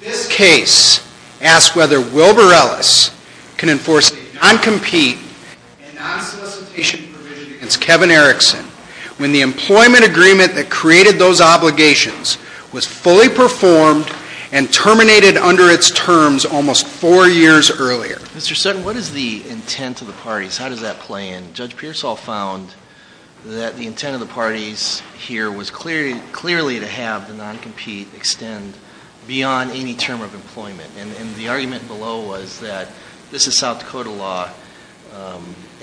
This case asks whether Willbur-Ellis can enforce a non-compete and non-solicitation provision against Kevin Erikson when the employment agreement that created those obligations was fully performed and terminated under its terms almost four years earlier. Mr. Sutton, what is the intent of the parties? How does that play in? Judge Pearsall found that the intent of the parties here was clearly to have the non-compete extend beyond any term of employment, and the argument below was that this is South Dakota law,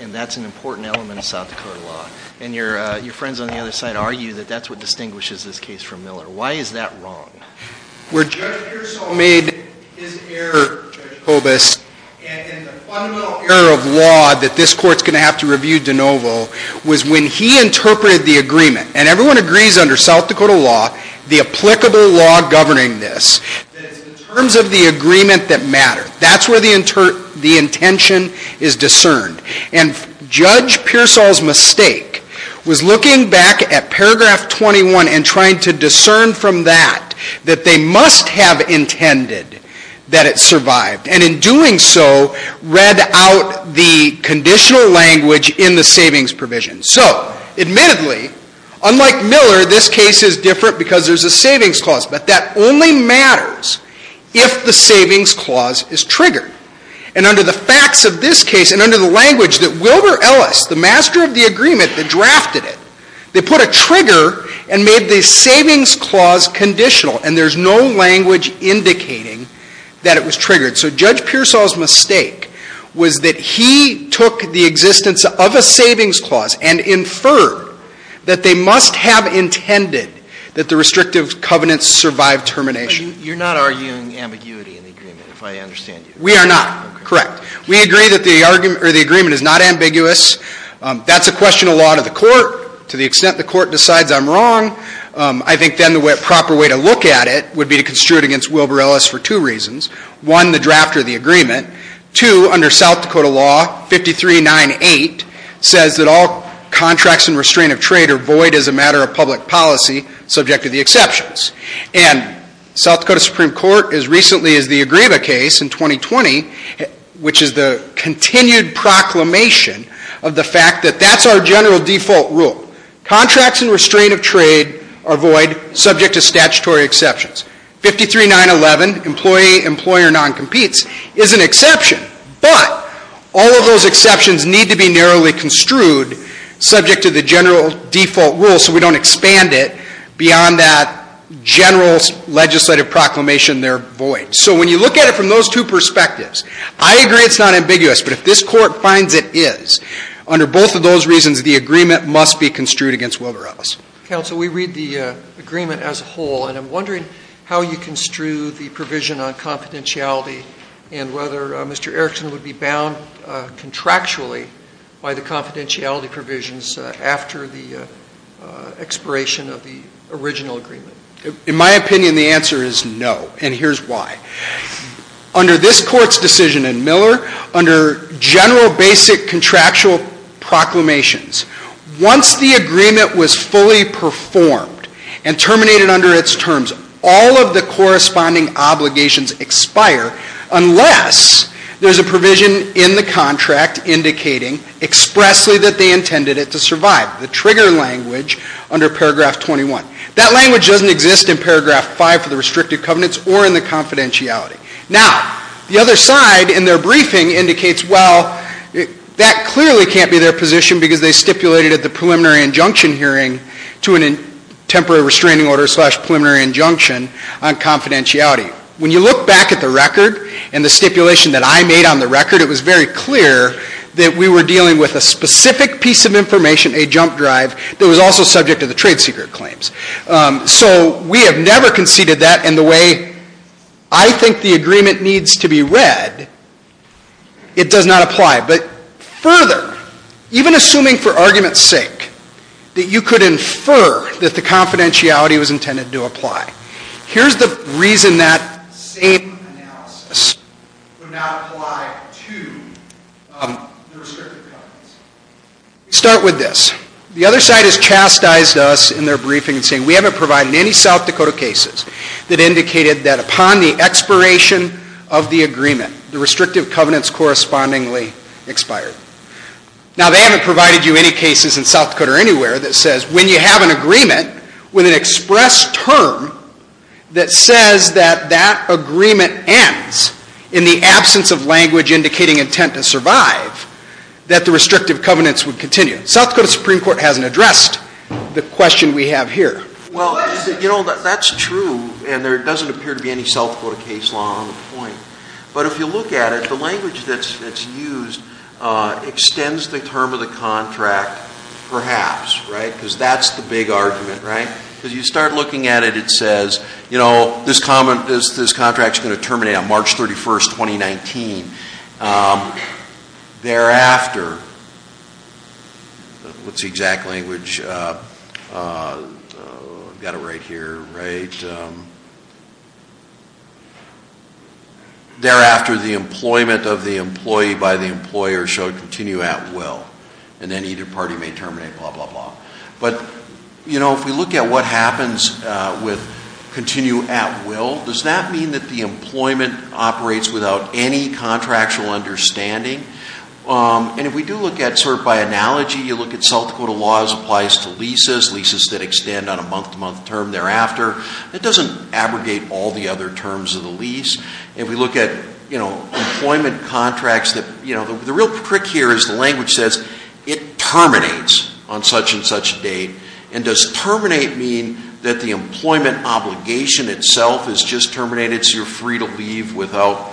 and that's an important element of South Dakota law. And your friends on the other side argue that that's what distinguishes this case from Miller. Why is that wrong? Judge Pearsall made his error, Judge Kobus, and the fundamental error of law that this court's going to have to review de novo was when he interpreted the agreement, and everyone agrees under South Dakota law, the applicable law governing this, that it's in terms of the agreement that matters. That's where the intention is discerned. And Judge Pearsall's mistake was looking back at paragraph 21 and trying to discern from that that they must have intended that it survived, and in doing so, read out the conditional language in the savings provision. So, admittedly, unlike Miller, this case is different because there's a savings clause, but that only matters if the savings clause is triggered. And under the facts of this case, and under the language that Wilbur Ellis, the master of the agreement that drafted it, they put a trigger and made the savings clause conditional, and there's no language indicating that it was triggered. So Judge Pearsall's mistake was that he took the existence of a savings clause and inferred that they must have intended that the restrictive covenants survive termination. You're not arguing ambiguity in the agreement, if I understand you. We are not. Correct. We agree that the agreement is not ambiguous. That's a question of law to the court. To the extent the court decides I'm wrong, I think then the proper way to look at it would be to construe it against Wilbur Ellis for two reasons. One, the draft or the agreement. Two, under South Dakota law, 5398 says that all contracts and restraint of trade are void as a matter of public policy, subject to the exceptions. And South Dakota Supreme Court, as recently as the Agriva case in 2020, which is the continued proclamation of the fact that that's our general default rule. Contracts and restraint of trade are void, subject to statutory exceptions. 53911, employee-employer non-competes, is an exception, but all of those exceptions need to be narrowly construed subject to the general default rule so we don't expand it beyond that general legislative proclamation, they're void. So when you look at it from those two perspectives, I agree it's not ambiguous, but if this court finds it is, under both of those reasons, the agreement must be construed against Wilbur Ellis. Counsel, we read the agreement as a whole, and I'm wondering how you construe the provision on confidentiality and whether Mr. Erickson would be bound contractually by the confidentiality provisions after the expiration of the original agreement. In my opinion, the answer is no, and here's why. Under this court's decision in Miller, under general basic contractual proclamations, once the agreement was fully performed and terminated under its terms, all of the corresponding obligations expire unless there's a provision in the contract indicating expressly that they intended it to survive, the trigger language under paragraph 21. That language doesn't exist in paragraph 5 for the restricted covenants or in the confidentiality. Now, the other side in their briefing indicates, well, that clearly can't be their position because they stipulated at the preliminary injunction hearing to a temporary restraining order slash preliminary injunction on confidentiality. When you look back at the record and the stipulation that I made on the record, it was very clear that we were dealing with a specific piece of information, a jump drive, that was also subject to the trade secret claims. So we have never conceded that, and the way I think the agreement needs to be read, it does not apply. But further, even assuming for argument's sake that you could infer that the confidentiality was intended to apply. Here's the reason that same analysis would not apply to the restricted covenants. Start with this. The other side has chastised us in their briefing saying we haven't provided any South Dakota cases that indicated that upon the expiration of the agreement, the restrictive covenants correspondingly expired. Now they haven't provided you any cases in South Dakota or anywhere that says when you have an agreement with an express term that says that that agreement ends in the absence of language indicating intent to survive, that the restrictive covenants would continue. South Dakota Supreme Court hasn't addressed the question we have here. Well, you know, that's true, and there doesn't appear to be any South Dakota case law on the point. But if you look at it, the language that's used extends the term of the contract perhaps, because that's the big argument. You start looking at it, it says, you know, this contract is going to terminate on March 31st, 2019. Thereafter, what's the exact language, I've got it right here, right, thereafter the employment of the employee by the employer shall continue at will. And then either party may terminate, blah, blah, blah. But, you know, if we look at what happens with continue at will, does that mean that the employment operates without any contractual understanding? And if we do look at sort of by analogy, you look at South Dakota laws applies to leases, leases that extend on a month-to-month term thereafter, that doesn't abrogate all the other terms of the lease. If we look at, you know, employment contracts that, you know, the real trick here is the terminates on such and such date. And does terminate mean that the employment obligation itself is just terminated so you're free to leave without,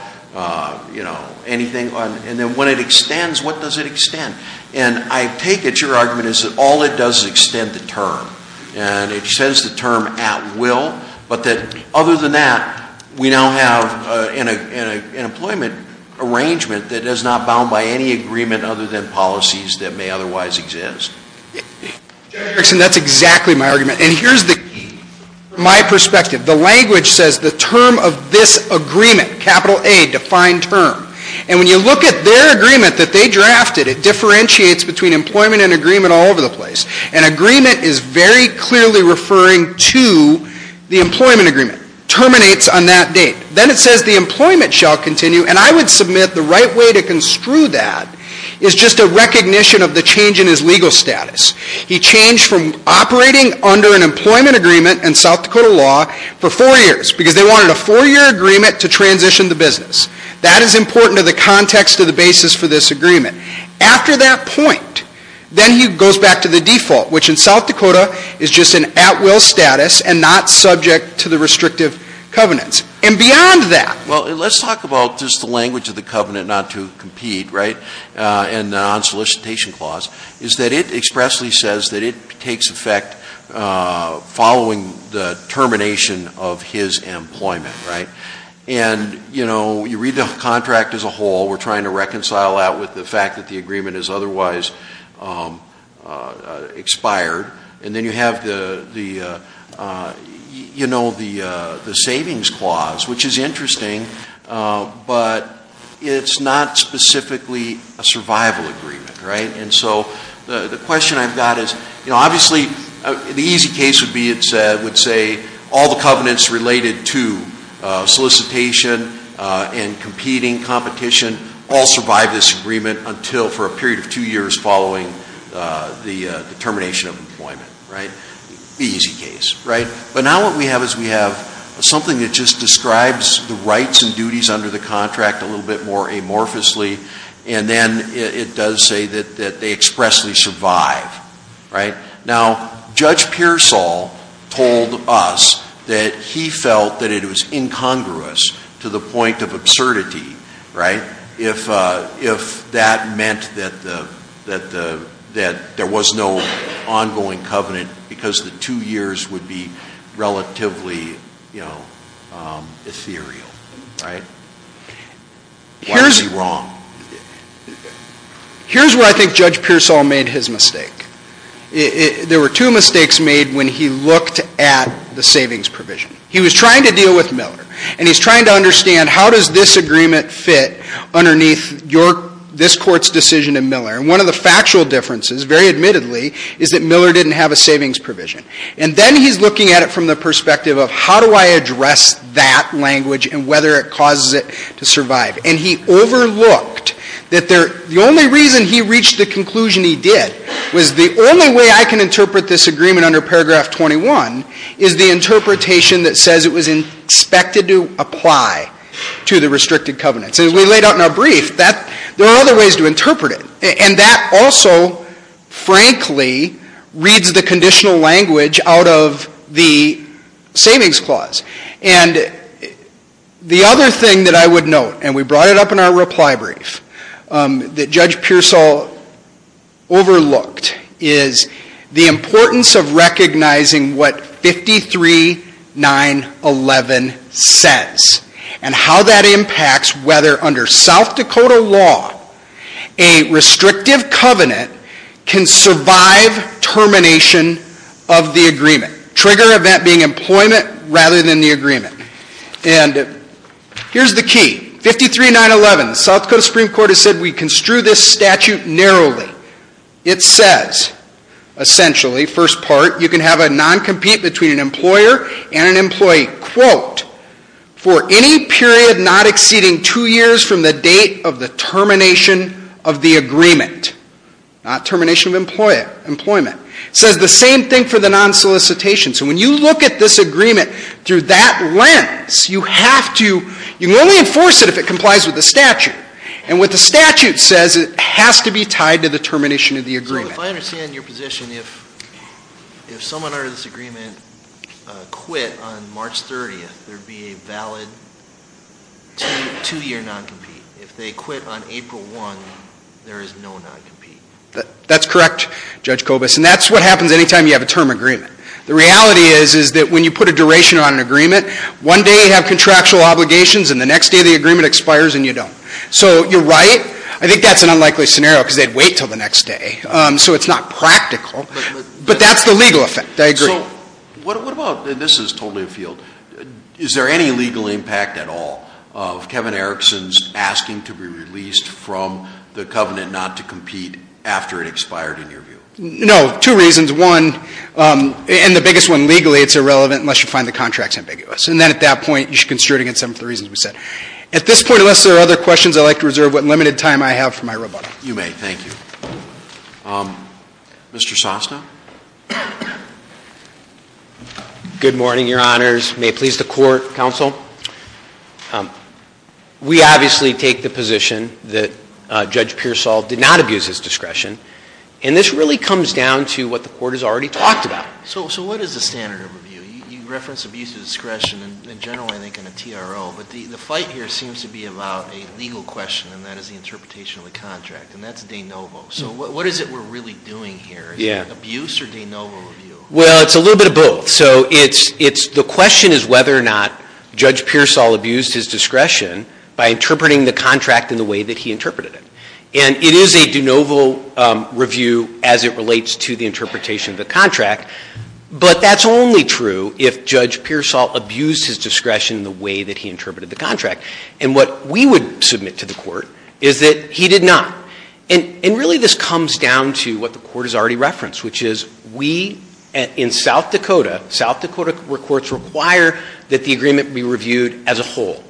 you know, anything? And then when it extends, what does it extend? And I take it your argument is that all it does is extend the term. And it extends the term at will, but that other than that, we now have an employment arrangement that is not bound by any agreement other than policies that may otherwise exist. General Erickson, that's exactly my argument. And here's the key. My perspective. The language says the term of this agreement, capital A, defined term. And when you look at their agreement that they drafted, it differentiates between employment and agreement all over the place. And agreement is very clearly referring to the employment agreement. Terminates on that date. Then it says the employment shall continue. And I would submit the right way to construe that is just a recognition of the change in his legal status. He changed from operating under an employment agreement in South Dakota law for four years because they wanted a four-year agreement to transition the business. That is important to the context of the basis for this agreement. After that point, then he goes back to the default, which in South Dakota is just an at will status and not subject to the restrictive covenants. And beyond that. Well, let's talk about just the language of the covenant not to compete, right? And the non-solicitation clause is that it expressly says that it takes effect following the termination of his employment, right? And you read the contract as a whole. We're trying to reconcile that with the fact that the agreement is otherwise expired. And then you have the savings clause, which is interesting. But it's not specifically a survival agreement, right? And so the question I've got is, obviously, the easy case would be it said, would say all the covenants related to solicitation and competing competition all survive this agreement until for a period of two years following the termination of employment, right, the easy case, right? But now what we have is we have something that just describes the rights and duties under the contract a little bit more amorphously. And then it does say that they expressly survive, right? Now, Judge Pearsall told us that he felt that it was incongruous to the point of absurdity, right, if that meant that there was no ongoing covenant because the two years would be relatively ethereal, right? Why is he wrong? Here's where I think Judge Pearsall made his mistake. There were two mistakes made when he looked at the savings provision. He was trying to deal with Miller. And he's trying to understand how does this agreement fit underneath this court's decision in Miller. And one of the factual differences, very admittedly, is that Miller didn't have a savings provision. And then he's looking at it from the perspective of how do I address that language and whether it causes it to survive. And he overlooked that the only reason he reached the conclusion he did was the only way I can interpret this agreement under paragraph 21 is the interpretation that says it was expected to apply to the restricted covenants. And as we laid out in our brief, there are other ways to interpret it. And that also, frankly, reads the conditional language out of the savings clause. And the other thing that I would note, and we brought it up in our reply brief, that Judge Pearsall overlooked is the importance of recognizing what 53-911 says. And how that impacts whether under South Dakota law, a restrictive covenant can survive termination of the agreement. Trigger event being employment rather than the agreement. And here's the key, 53-911, South Dakota Supreme Court has said we construe this statute narrowly. It says, essentially, first part, you can have a non-compete between an employer and an employee, quote, for any period not exceeding two years from the date of the termination of the agreement. Not termination of employment. Says the same thing for the non-solicitation. So when you look at this agreement through that lens, you have to, you can only enforce it if it complies with the statute. And what the statute says, it has to be tied to the termination of the agreement. So if I understand your position, if someone under this agreement quit on March 30th, there'd be a valid two-year non-compete. If they quit on April 1, there is no non-compete. That's correct, Judge Kobus, and that's what happens any time you have a term agreement. The reality is, is that when you put a duration on an agreement, one day you have contractual obligations, and the next day the agreement expires and you don't. So you're right, I think that's an unlikely scenario because they'd wait until the next day. So it's not practical, but that's the legal effect, I agree. So what about, and this is totally a field, is there any legal impact at all of Kevin Erickson's asking to be released from the covenant not to compete after it expired in your view? No, two reasons. One, and the biggest one legally, it's irrelevant unless you find the contract's ambiguous. And then at that point, you should construe it against them for the reasons we said. At this point, unless there are other questions, I'd like to reserve what limited time I have for my rebuttal. You may, thank you. Mr. Sosta? Good morning, your honors. May it please the court, counsel. We obviously take the position that Judge Pearsall did not abuse his discretion. And this really comes down to what the court has already talked about. So what is the standard of review? You referenced abuse of discretion in general, I think, in a TRO. But the fight here seems to be about a legal question, and that is the interpretation of the contract, and that's de novo. So what is it we're really doing here? Is it abuse or de novo review? Well, it's a little bit of both. So the question is whether or not Judge Pearsall abused his discretion by interpreting the contract in the way that he interpreted it. And it is a de novo review as it relates to the interpretation of the contract. But that's only true if Judge Pearsall abused his discretion in the way that he interpreted the contract. And what we would submit to the court is that he did not. And really this comes down to what the court has already referenced, which is we in South Dakota, South Dakota where courts require that the agreement be reviewed as a whole.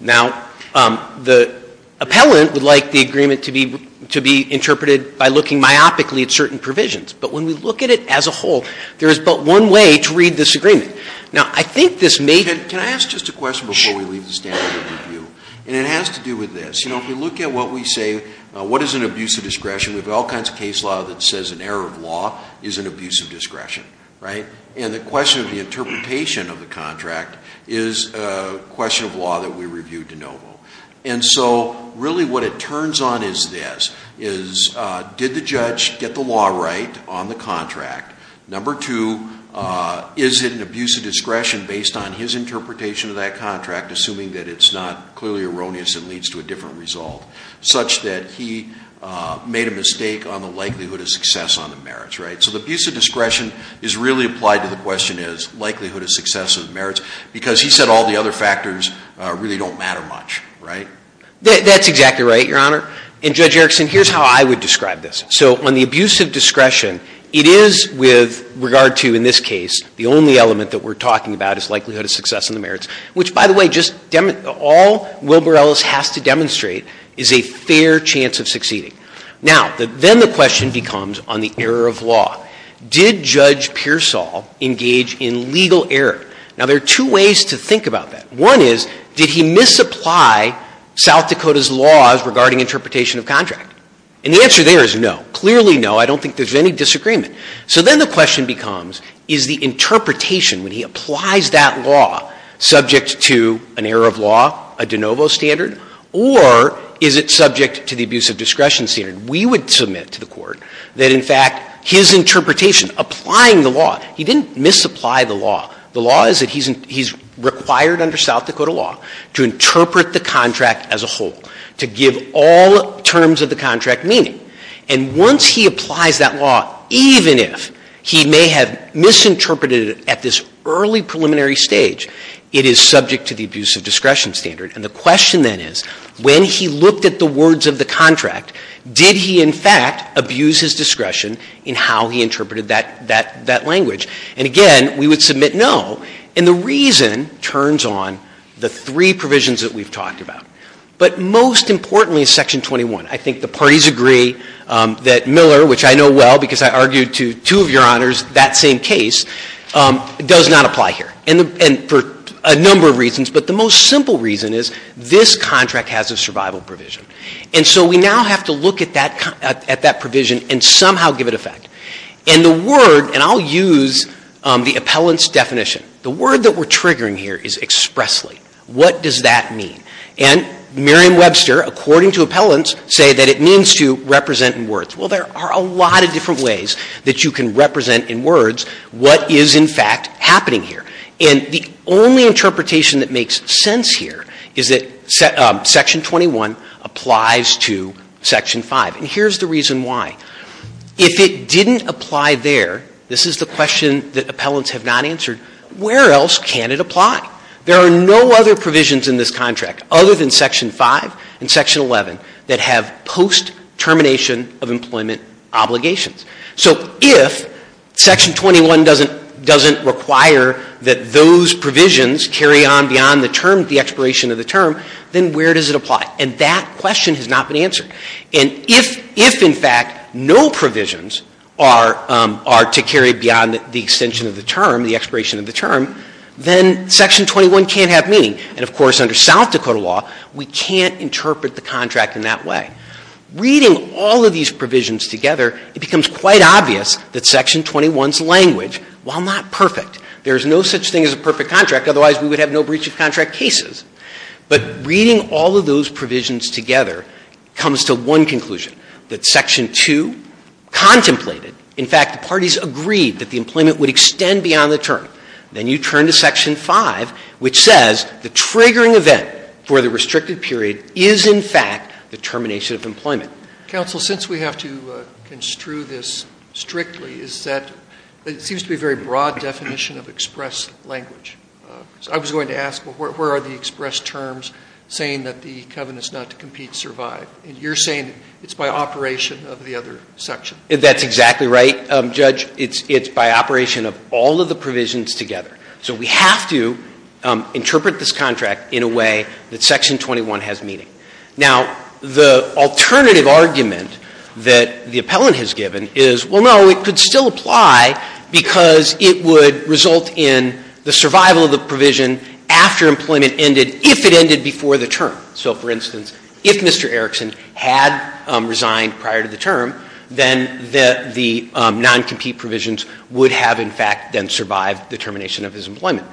Now, the appellant would like the agreement to be interpreted by looking myopically at certain provisions. But when we look at it as a whole, there is but one way to read this agreement. Now, I think this may- Can I ask just a question before we leave the standard of review? And it has to do with this. If we look at what we say, what is an abuse of discretion? We have all kinds of case law that says an error of law is an abuse of discretion, right? And the question of the interpretation of the contract is a question of law that we reviewed de novo. And so really what it turns on is this, is did the judge get the law right on the contract? Number two, is it an abuse of discretion based on his interpretation of that contract, assuming that it's not clearly erroneous and leads to a different result? Such that he made a mistake on the likelihood of success on the merits, right? So the abuse of discretion is really applied to the question is likelihood of success of merits. Because he said all the other factors really don't matter much, right? That's exactly right, your honor. And Judge Erickson, here's how I would describe this. So on the abuse of discretion, it is with regard to, in this case, the only element that we're talking about is likelihood of success in the merits. Which by the way, all Wilbur Ellis has to demonstrate is a fair chance of succeeding. Now, then the question becomes on the error of law. Did Judge Pearsall engage in legal error? Now, there are two ways to think about that. One is, did he misapply South Dakota's laws regarding interpretation of contract? And the answer there is no. Clearly no, I don't think there's any disagreement. So then the question becomes, is the interpretation when he applies that law subject to an error of law, a de novo standard, or is it subject to the abuse of discretion standard? We would submit to the court that in fact, his interpretation applying the law, he didn't misapply the law. The law is that he's required under South Dakota law to interpret the contract as a whole. To give all terms of the contract meaning. And once he applies that law, even if he may have misinterpreted it at this early preliminary stage. It is subject to the abuse of discretion standard. And the question then is, when he looked at the words of the contract, did he in fact abuse his discretion in how he interpreted that language? And again, we would submit no, and the reason turns on the three provisions that we've talked about. But most importantly, section 21, I think the parties agree that Miller, which I know well because I argued to two of your honors that same case, does not apply here. And for a number of reasons, but the most simple reason is this contract has a survival provision. And so we now have to look at that provision and somehow give it effect. And the word, and I'll use the appellant's definition. The word that we're triggering here is expressly. What does that mean? And Miriam Webster, according to appellants, say that it means to represent in words. Well, there are a lot of different ways that you can represent in words what is in fact happening here. And the only interpretation that makes sense here is that section 21 applies to section five. And here's the reason why. If it didn't apply there, this is the question that appellants have not answered, where else can it apply? There are no other provisions in this contract other than section five and section 11 that have post termination of employment obligations. So if section 21 doesn't require that those provisions carry on beyond the term, the expiration of the term, then where does it apply? And that question has not been answered. And if, in fact, no provisions are to carry beyond the extension of the term, the expiration of the term, then section 21 can't have meaning. And of course, under South Dakota law, we can't interpret the contract in that way. Reading all of these provisions together, it becomes quite obvious that section 21's language, while not perfect. There's no such thing as a perfect contract, otherwise we would have no breach of contract cases. But reading all of those provisions together comes to one conclusion, that section two contemplated. In fact, the parties agreed that the employment would extend beyond the term. Then you turn to section five, which says the triggering event for the restricted period is, in fact, the termination of employment. Counsel, since we have to construe this strictly, is that it seems to be a very broad definition of express language. I was going to ask, where are the express terms saying that the covenant's not to compete, survive? And you're saying it's by operation of the other section. That's exactly right, Judge. It's by operation of all of the provisions together. So we have to interpret this contract in a way that section 21 has meaning. Now, the alternative argument that the appellant has given is, well, no, it could still apply because it would result in the survival of the provision after employment ended, if it ended before the term. So for instance, if Mr. Erickson had resigned prior to the term, then the non-compete provisions would have, in fact, then survived the termination of his employment.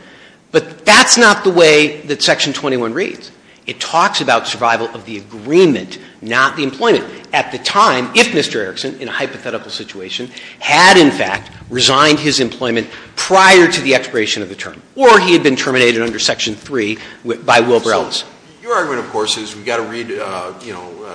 But that's not the way that section 21 reads. It talks about survival of the agreement, not the employment. At the time, if Mr. Erickson, in a hypothetical situation, had, in fact, resigned his employment prior to the expiration of the term, or he had been terminated under section 3 by Will Brellis. Your argument, of course, is we've got to read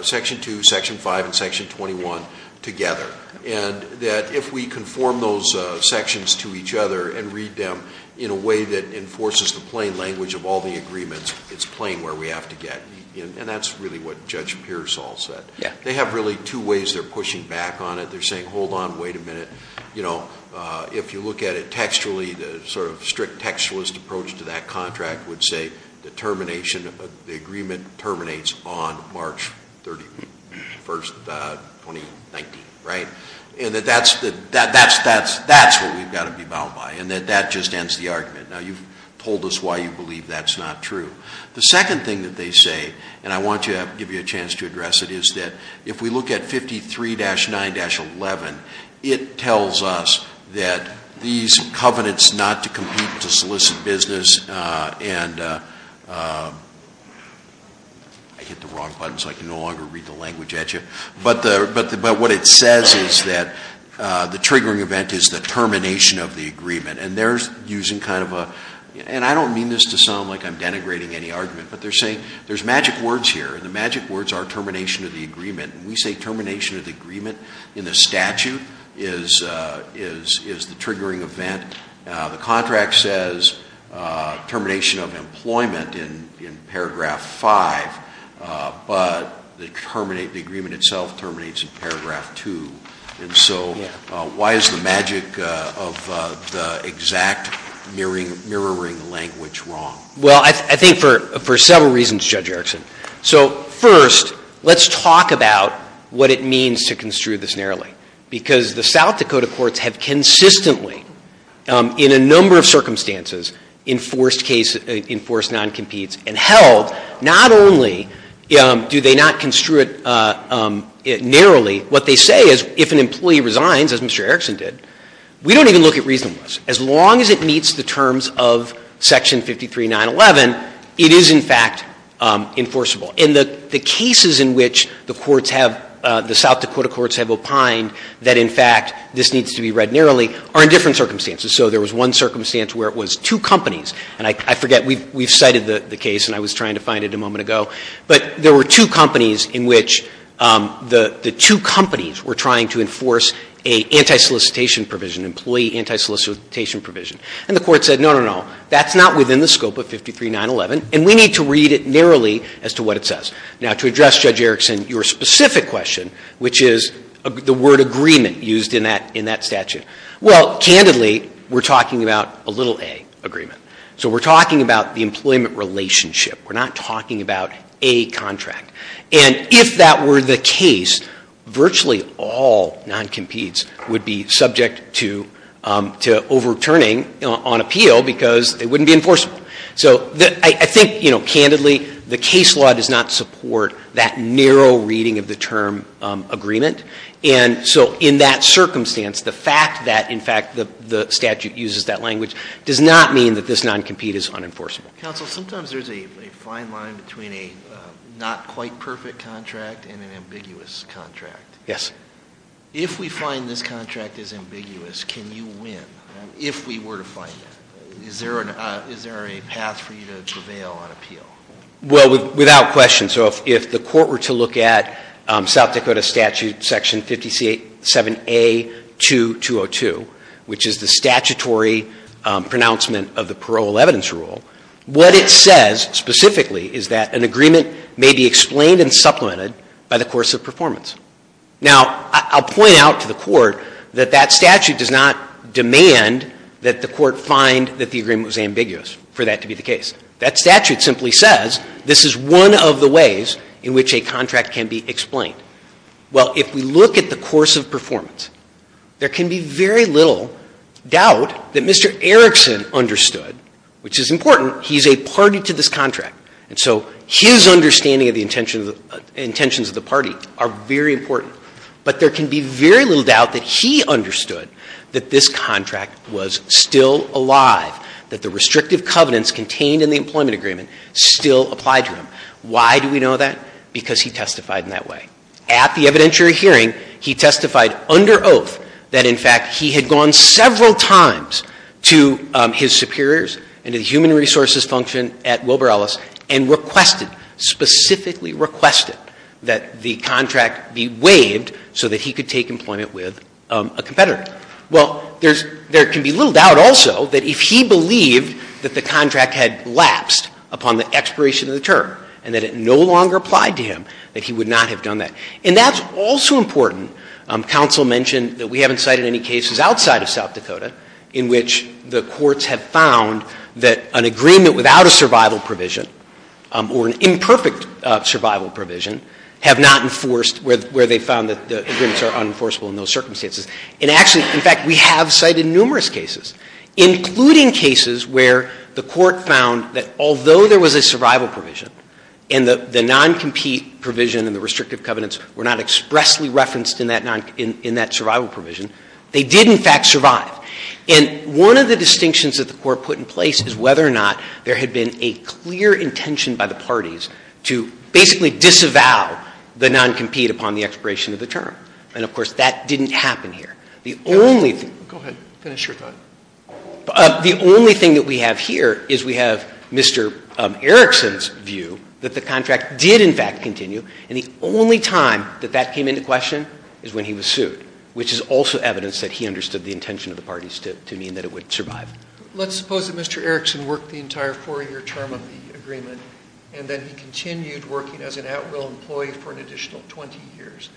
section 2, section 5, and section 21 together. And that if we conform those sections to each other and read them in a way that enforces the plain language of all the agreements, it's plain where we have to get. And that's really what Judge Pearsall said. They have really two ways they're pushing back on it. They're saying, hold on, wait a minute. If you look at it textually, the sort of strict textualist approach to that contract would say, the termination of the agreement terminates on March 31st, 2019, right? And that that's what we've got to be bound by, and that that just ends the argument. Now you've told us why you believe that's not true. The second thing that they say, and I want to give you a chance to address it, is that if we look at 53-9-11, it tells us that these covenants not to compete to solicit business. And I hit the wrong button, so I can no longer read the language at you. But what it says is that the triggering event is the termination of the agreement. And they're using kind of a, and I don't mean this to sound like I'm denigrating any argument, but they're saying, there's magic words here. And the magic words are termination of the agreement. And we say termination of the agreement in the statute is the triggering event. The contract says termination of employment in paragraph five. But the agreement itself terminates in paragraph two. And so why is the magic of the exact mirroring language wrong? Well, I think for several reasons, Judge Erickson. So first, let's talk about what it means to construe this narrowly. Because the South Dakota courts have consistently, in a number of circumstances, enforced non-competes and held not only do they not construe it narrowly. What they say is, if an employee resigns, as Mr. Erickson did, we don't even look at reasonableness. As long as it meets the terms of section 53-911, it is, in fact, enforceable. And the cases in which the courts have, the South Dakota courts have opined that, in fact, this needs to be read narrowly are in different circumstances. So there was one circumstance where it was two companies. And I forget, we've cited the case and I was trying to find it a moment ago. But there were two companies in which the two companies were trying to enforce a anti-solicitation provision, employee anti-solicitation provision. And the court said, no, no, no, that's not within the scope of 53-911, and we need to read it narrowly as to what it says. Now, to address Judge Erickson, your specific question, which is the word agreement used in that statute. Well, candidly, we're talking about a little a agreement. So we're talking about the employment relationship. We're not talking about a contract. And if that were the case, virtually all non-competes would be subject to overturning on appeal because it wouldn't be enforceable. So I think, candidly, the case law does not support that narrow reading of the term agreement. And so in that circumstance, the fact that, in fact, the statute uses that language does not mean that this non-compete is unenforceable. Counsel, sometimes there's a fine line between a not quite perfect contract and an ambiguous contract. Yes. If we find this contract is ambiguous, can you win? If we were to find it, is there a path for you to prevail on appeal? Well, without question. So if the court were to look at South Dakota Statute Section 507A-2202, which is the statutory pronouncement of the parole evidence rule, what it says specifically is that an agreement may be explained and supplemented by the course of performance. Now, I'll point out to the court that that statute does not demand that the court find that the agreement was ambiguous for that to be the case. That statute simply says this is one of the ways in which a contract can be explained. Well, if we look at the course of performance, there can be very little doubt that Mr. Erickson understood, which is important, he's a party to this contract. And so his understanding of the intentions of the party are very important. But there can be very little doubt that he understood that this contract was still alive, that the restrictive covenants contained in the employment agreement still apply to him. Why do we know that? Because he testified in that way. At the evidentiary hearing, he testified under oath that, in fact, he had gone several times to his superiors and the human resources function at Wilber Ellis and requested, specifically requested, that the contract be waived so that he could take employment with a competitor. Well, there can be little doubt also that if he believed that the contract had lapsed upon the expiration of the term and that it no longer applied to him, that he would not have done that. And that's also important. Counsel mentioned that we haven't cited any cases outside of South Dakota in which the courts have found that an agreement without a survival provision or an imperfect survival provision have not enforced where they found that the agreements are unenforceable in those circumstances. And actually, in fact, we have cited numerous cases, including cases where the court found that although there was a survival provision and the non-compete provision and the restrictive covenants were not expressly referenced in that survival provision, they did, in fact, survive. And one of the distinctions that the court put in place is whether or not there had been a clear intention by the parties to basically disavow the non-compete upon the expiration of the term. And of course, that didn't happen here. The only thing- Go ahead. Finish your thought. The only thing that we have here is we have Mr. Erickson's view that the contract did, in fact, continue. And the only time that that came into question is when he was sued, which is also evidence that he understood the intention of the parties to mean that it would survive. Let's suppose that Mr. Erickson worked the entire four-year term of the agreement and that he continued working as an at-will employee for an additional 20 years.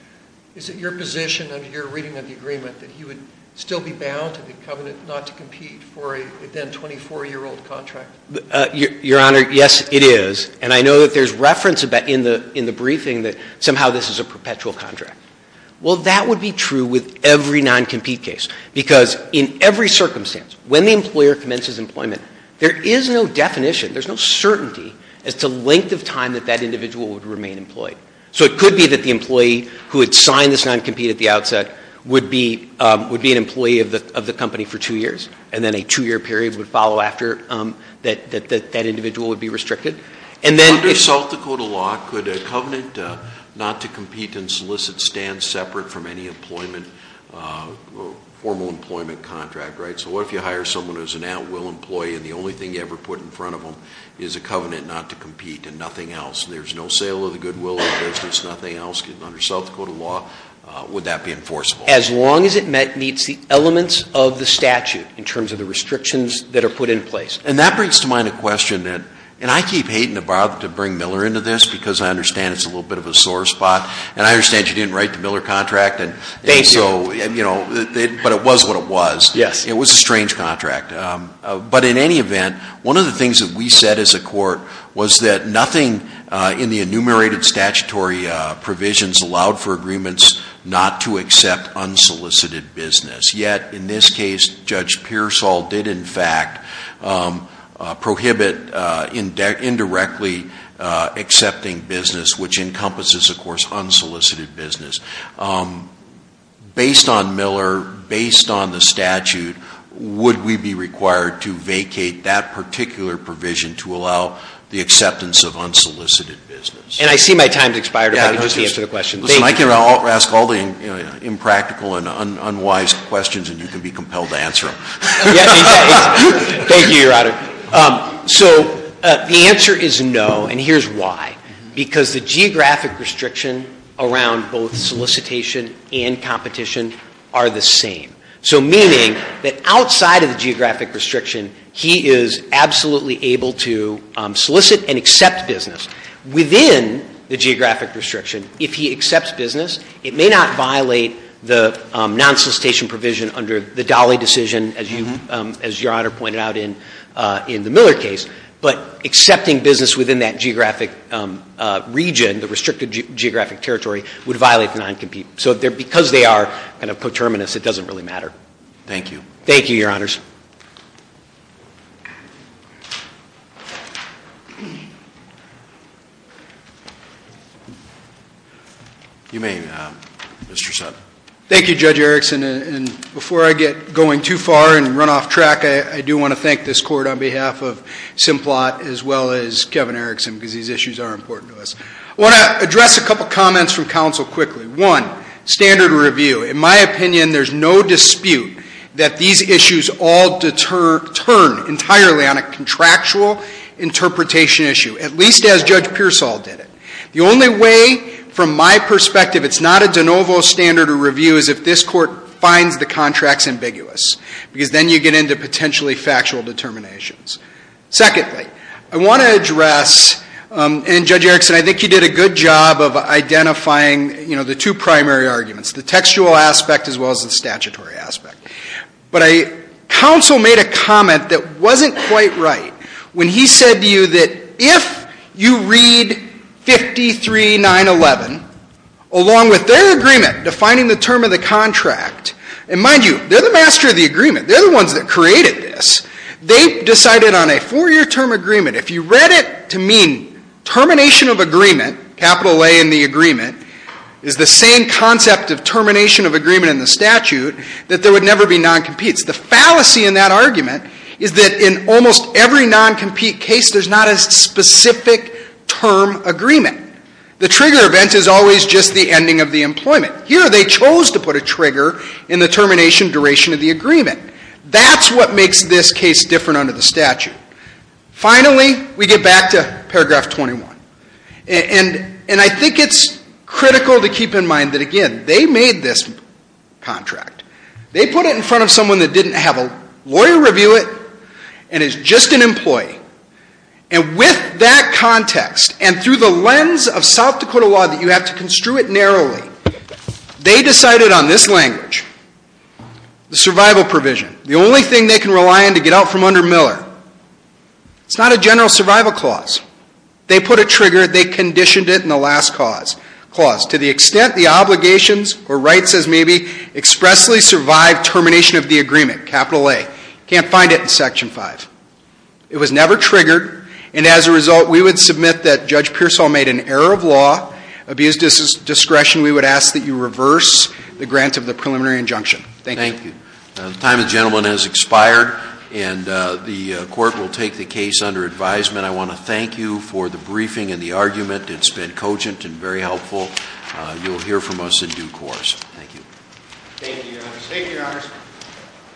Is it your position under your reading of the agreement that he would still be bound to the covenant not to compete for a then 24-year-old contract? Your Honor, yes it is. And I know that there's reference in the briefing that somehow this is a perpetual contract. Well, that would be true with every non-compete case. Because in every circumstance, when the employer commences employment, there is no definition, there's no certainty as to length of time that that individual would remain employed. So it could be that the employee who had signed this non-compete at the outset would be an employee of the company for two years. And then a two-year period would follow after that that individual would be restricted. And then- Under South Dakota law, could a covenant not to compete and solicit stand separate from any employment, formal employment contract, right? So what if you hire someone who's an at-will employee and the only thing you ever put in front of them is a covenant not to compete and nothing else. There's no sale of the goodwill of the business, nothing else, getting under South Dakota law, would that be enforceable? As long as it meets the elements of the statute in terms of the restrictions that are put in place. And that brings to mind a question that, and I keep hating to bother to bring Miller into this because I understand it's a little bit of a sore spot. And I understand you didn't write the Miller contract and so, but it was what it was. Yes. It was a strange contract. But in any event, one of the things that we said as a court was that nothing in the enumerated statutory provisions allowed for agreements not to accept unsolicited business. Yet, in this case, Judge Pearsall did in fact prohibit indirectly accepting business which encompasses, of course, unsolicited business. Based on Miller, based on the statute, would we be required to vacate that particular provision to allow the acceptance of unsolicited business? And I see my time's expired, if I could just answer the question. Thank you. Listen, I can ask all the impractical and unwise questions and you can be compelled to answer them. Thank you, Your Honor. So the answer is no, and here's why. Because the geographic restriction around both solicitation and competition are the same. So meaning that outside of the geographic restriction, he is absolutely able to solicit and accept business. Within the geographic restriction, if he accepts business, it may not violate the non-solicitation provision under the Dali decision, as Your Honor pointed out in the Miller case. But accepting business within that geographic region, the restricted geographic territory, would violate the non-compete. So because they are kind of coterminous, it doesn't really matter. Thank you. Thank you, Your Honors. You may, Mr. Sutton. Thank you, Judge Erickson. And before I get going too far and run off track, I do want to thank this court on behalf of Simplot as well as Kevin Erickson, because these issues are important to us. I want to address a couple comments from counsel quickly. One, standard review. In my opinion, there's no dispute that these issues all turn entirely on a contractual interpretation issue, at least as Judge Pearsall did it. The only way, from my perspective, it's not a de novo standard of review is if this court finds the contracts ambiguous. Because then you get into potentially factual determinations. Secondly, I want to address, and Judge Erickson, I think you did a good job of identifying the two primary arguments. The textual aspect as well as the statutory aspect. But counsel made a comment that wasn't quite right. When he said to you that if you read 53-911, along with their agreement defining the term of the contract. And mind you, they're the master of the agreement. They're the ones that created this. They decided on a four year term agreement. If you read it to mean termination of agreement, capital A in the agreement, is the same concept of termination of agreement in the statute that there would never be non-competes. The fallacy in that argument is that in almost every non-compete case, there's not a specific term agreement. The trigger event is always just the ending of the employment. Here they chose to put a trigger in the termination duration of the agreement. That's what makes this case different under the statute. Finally, we get back to paragraph 21. And I think it's critical to keep in mind that again, they made this contract. They put it in front of someone that didn't have a lawyer review it and is just an employee. And with that context and through the lens of South Dakota law that you have to construe it narrowly, they decided on this language, the survival provision. The only thing they can rely on to get out from under Miller. It's not a general survival clause. They put a trigger. They conditioned it in the last clause. To the extent the obligations or rights as maybe expressly survive termination of the agreement, capital A. Can't find it in section five. It was never triggered. And as a result, we would submit that Judge Pearsall made an error of law, abused his discretion. We would ask that you reverse the grant of the preliminary injunction. Thank you. The time of the gentleman has expired and the court will take the case under advisement. I want to thank you for the briefing and the argument. It's been cogent and very helpful. You'll hear from us in due course. Thank you. Thank you, your honors. Thank you, your honors.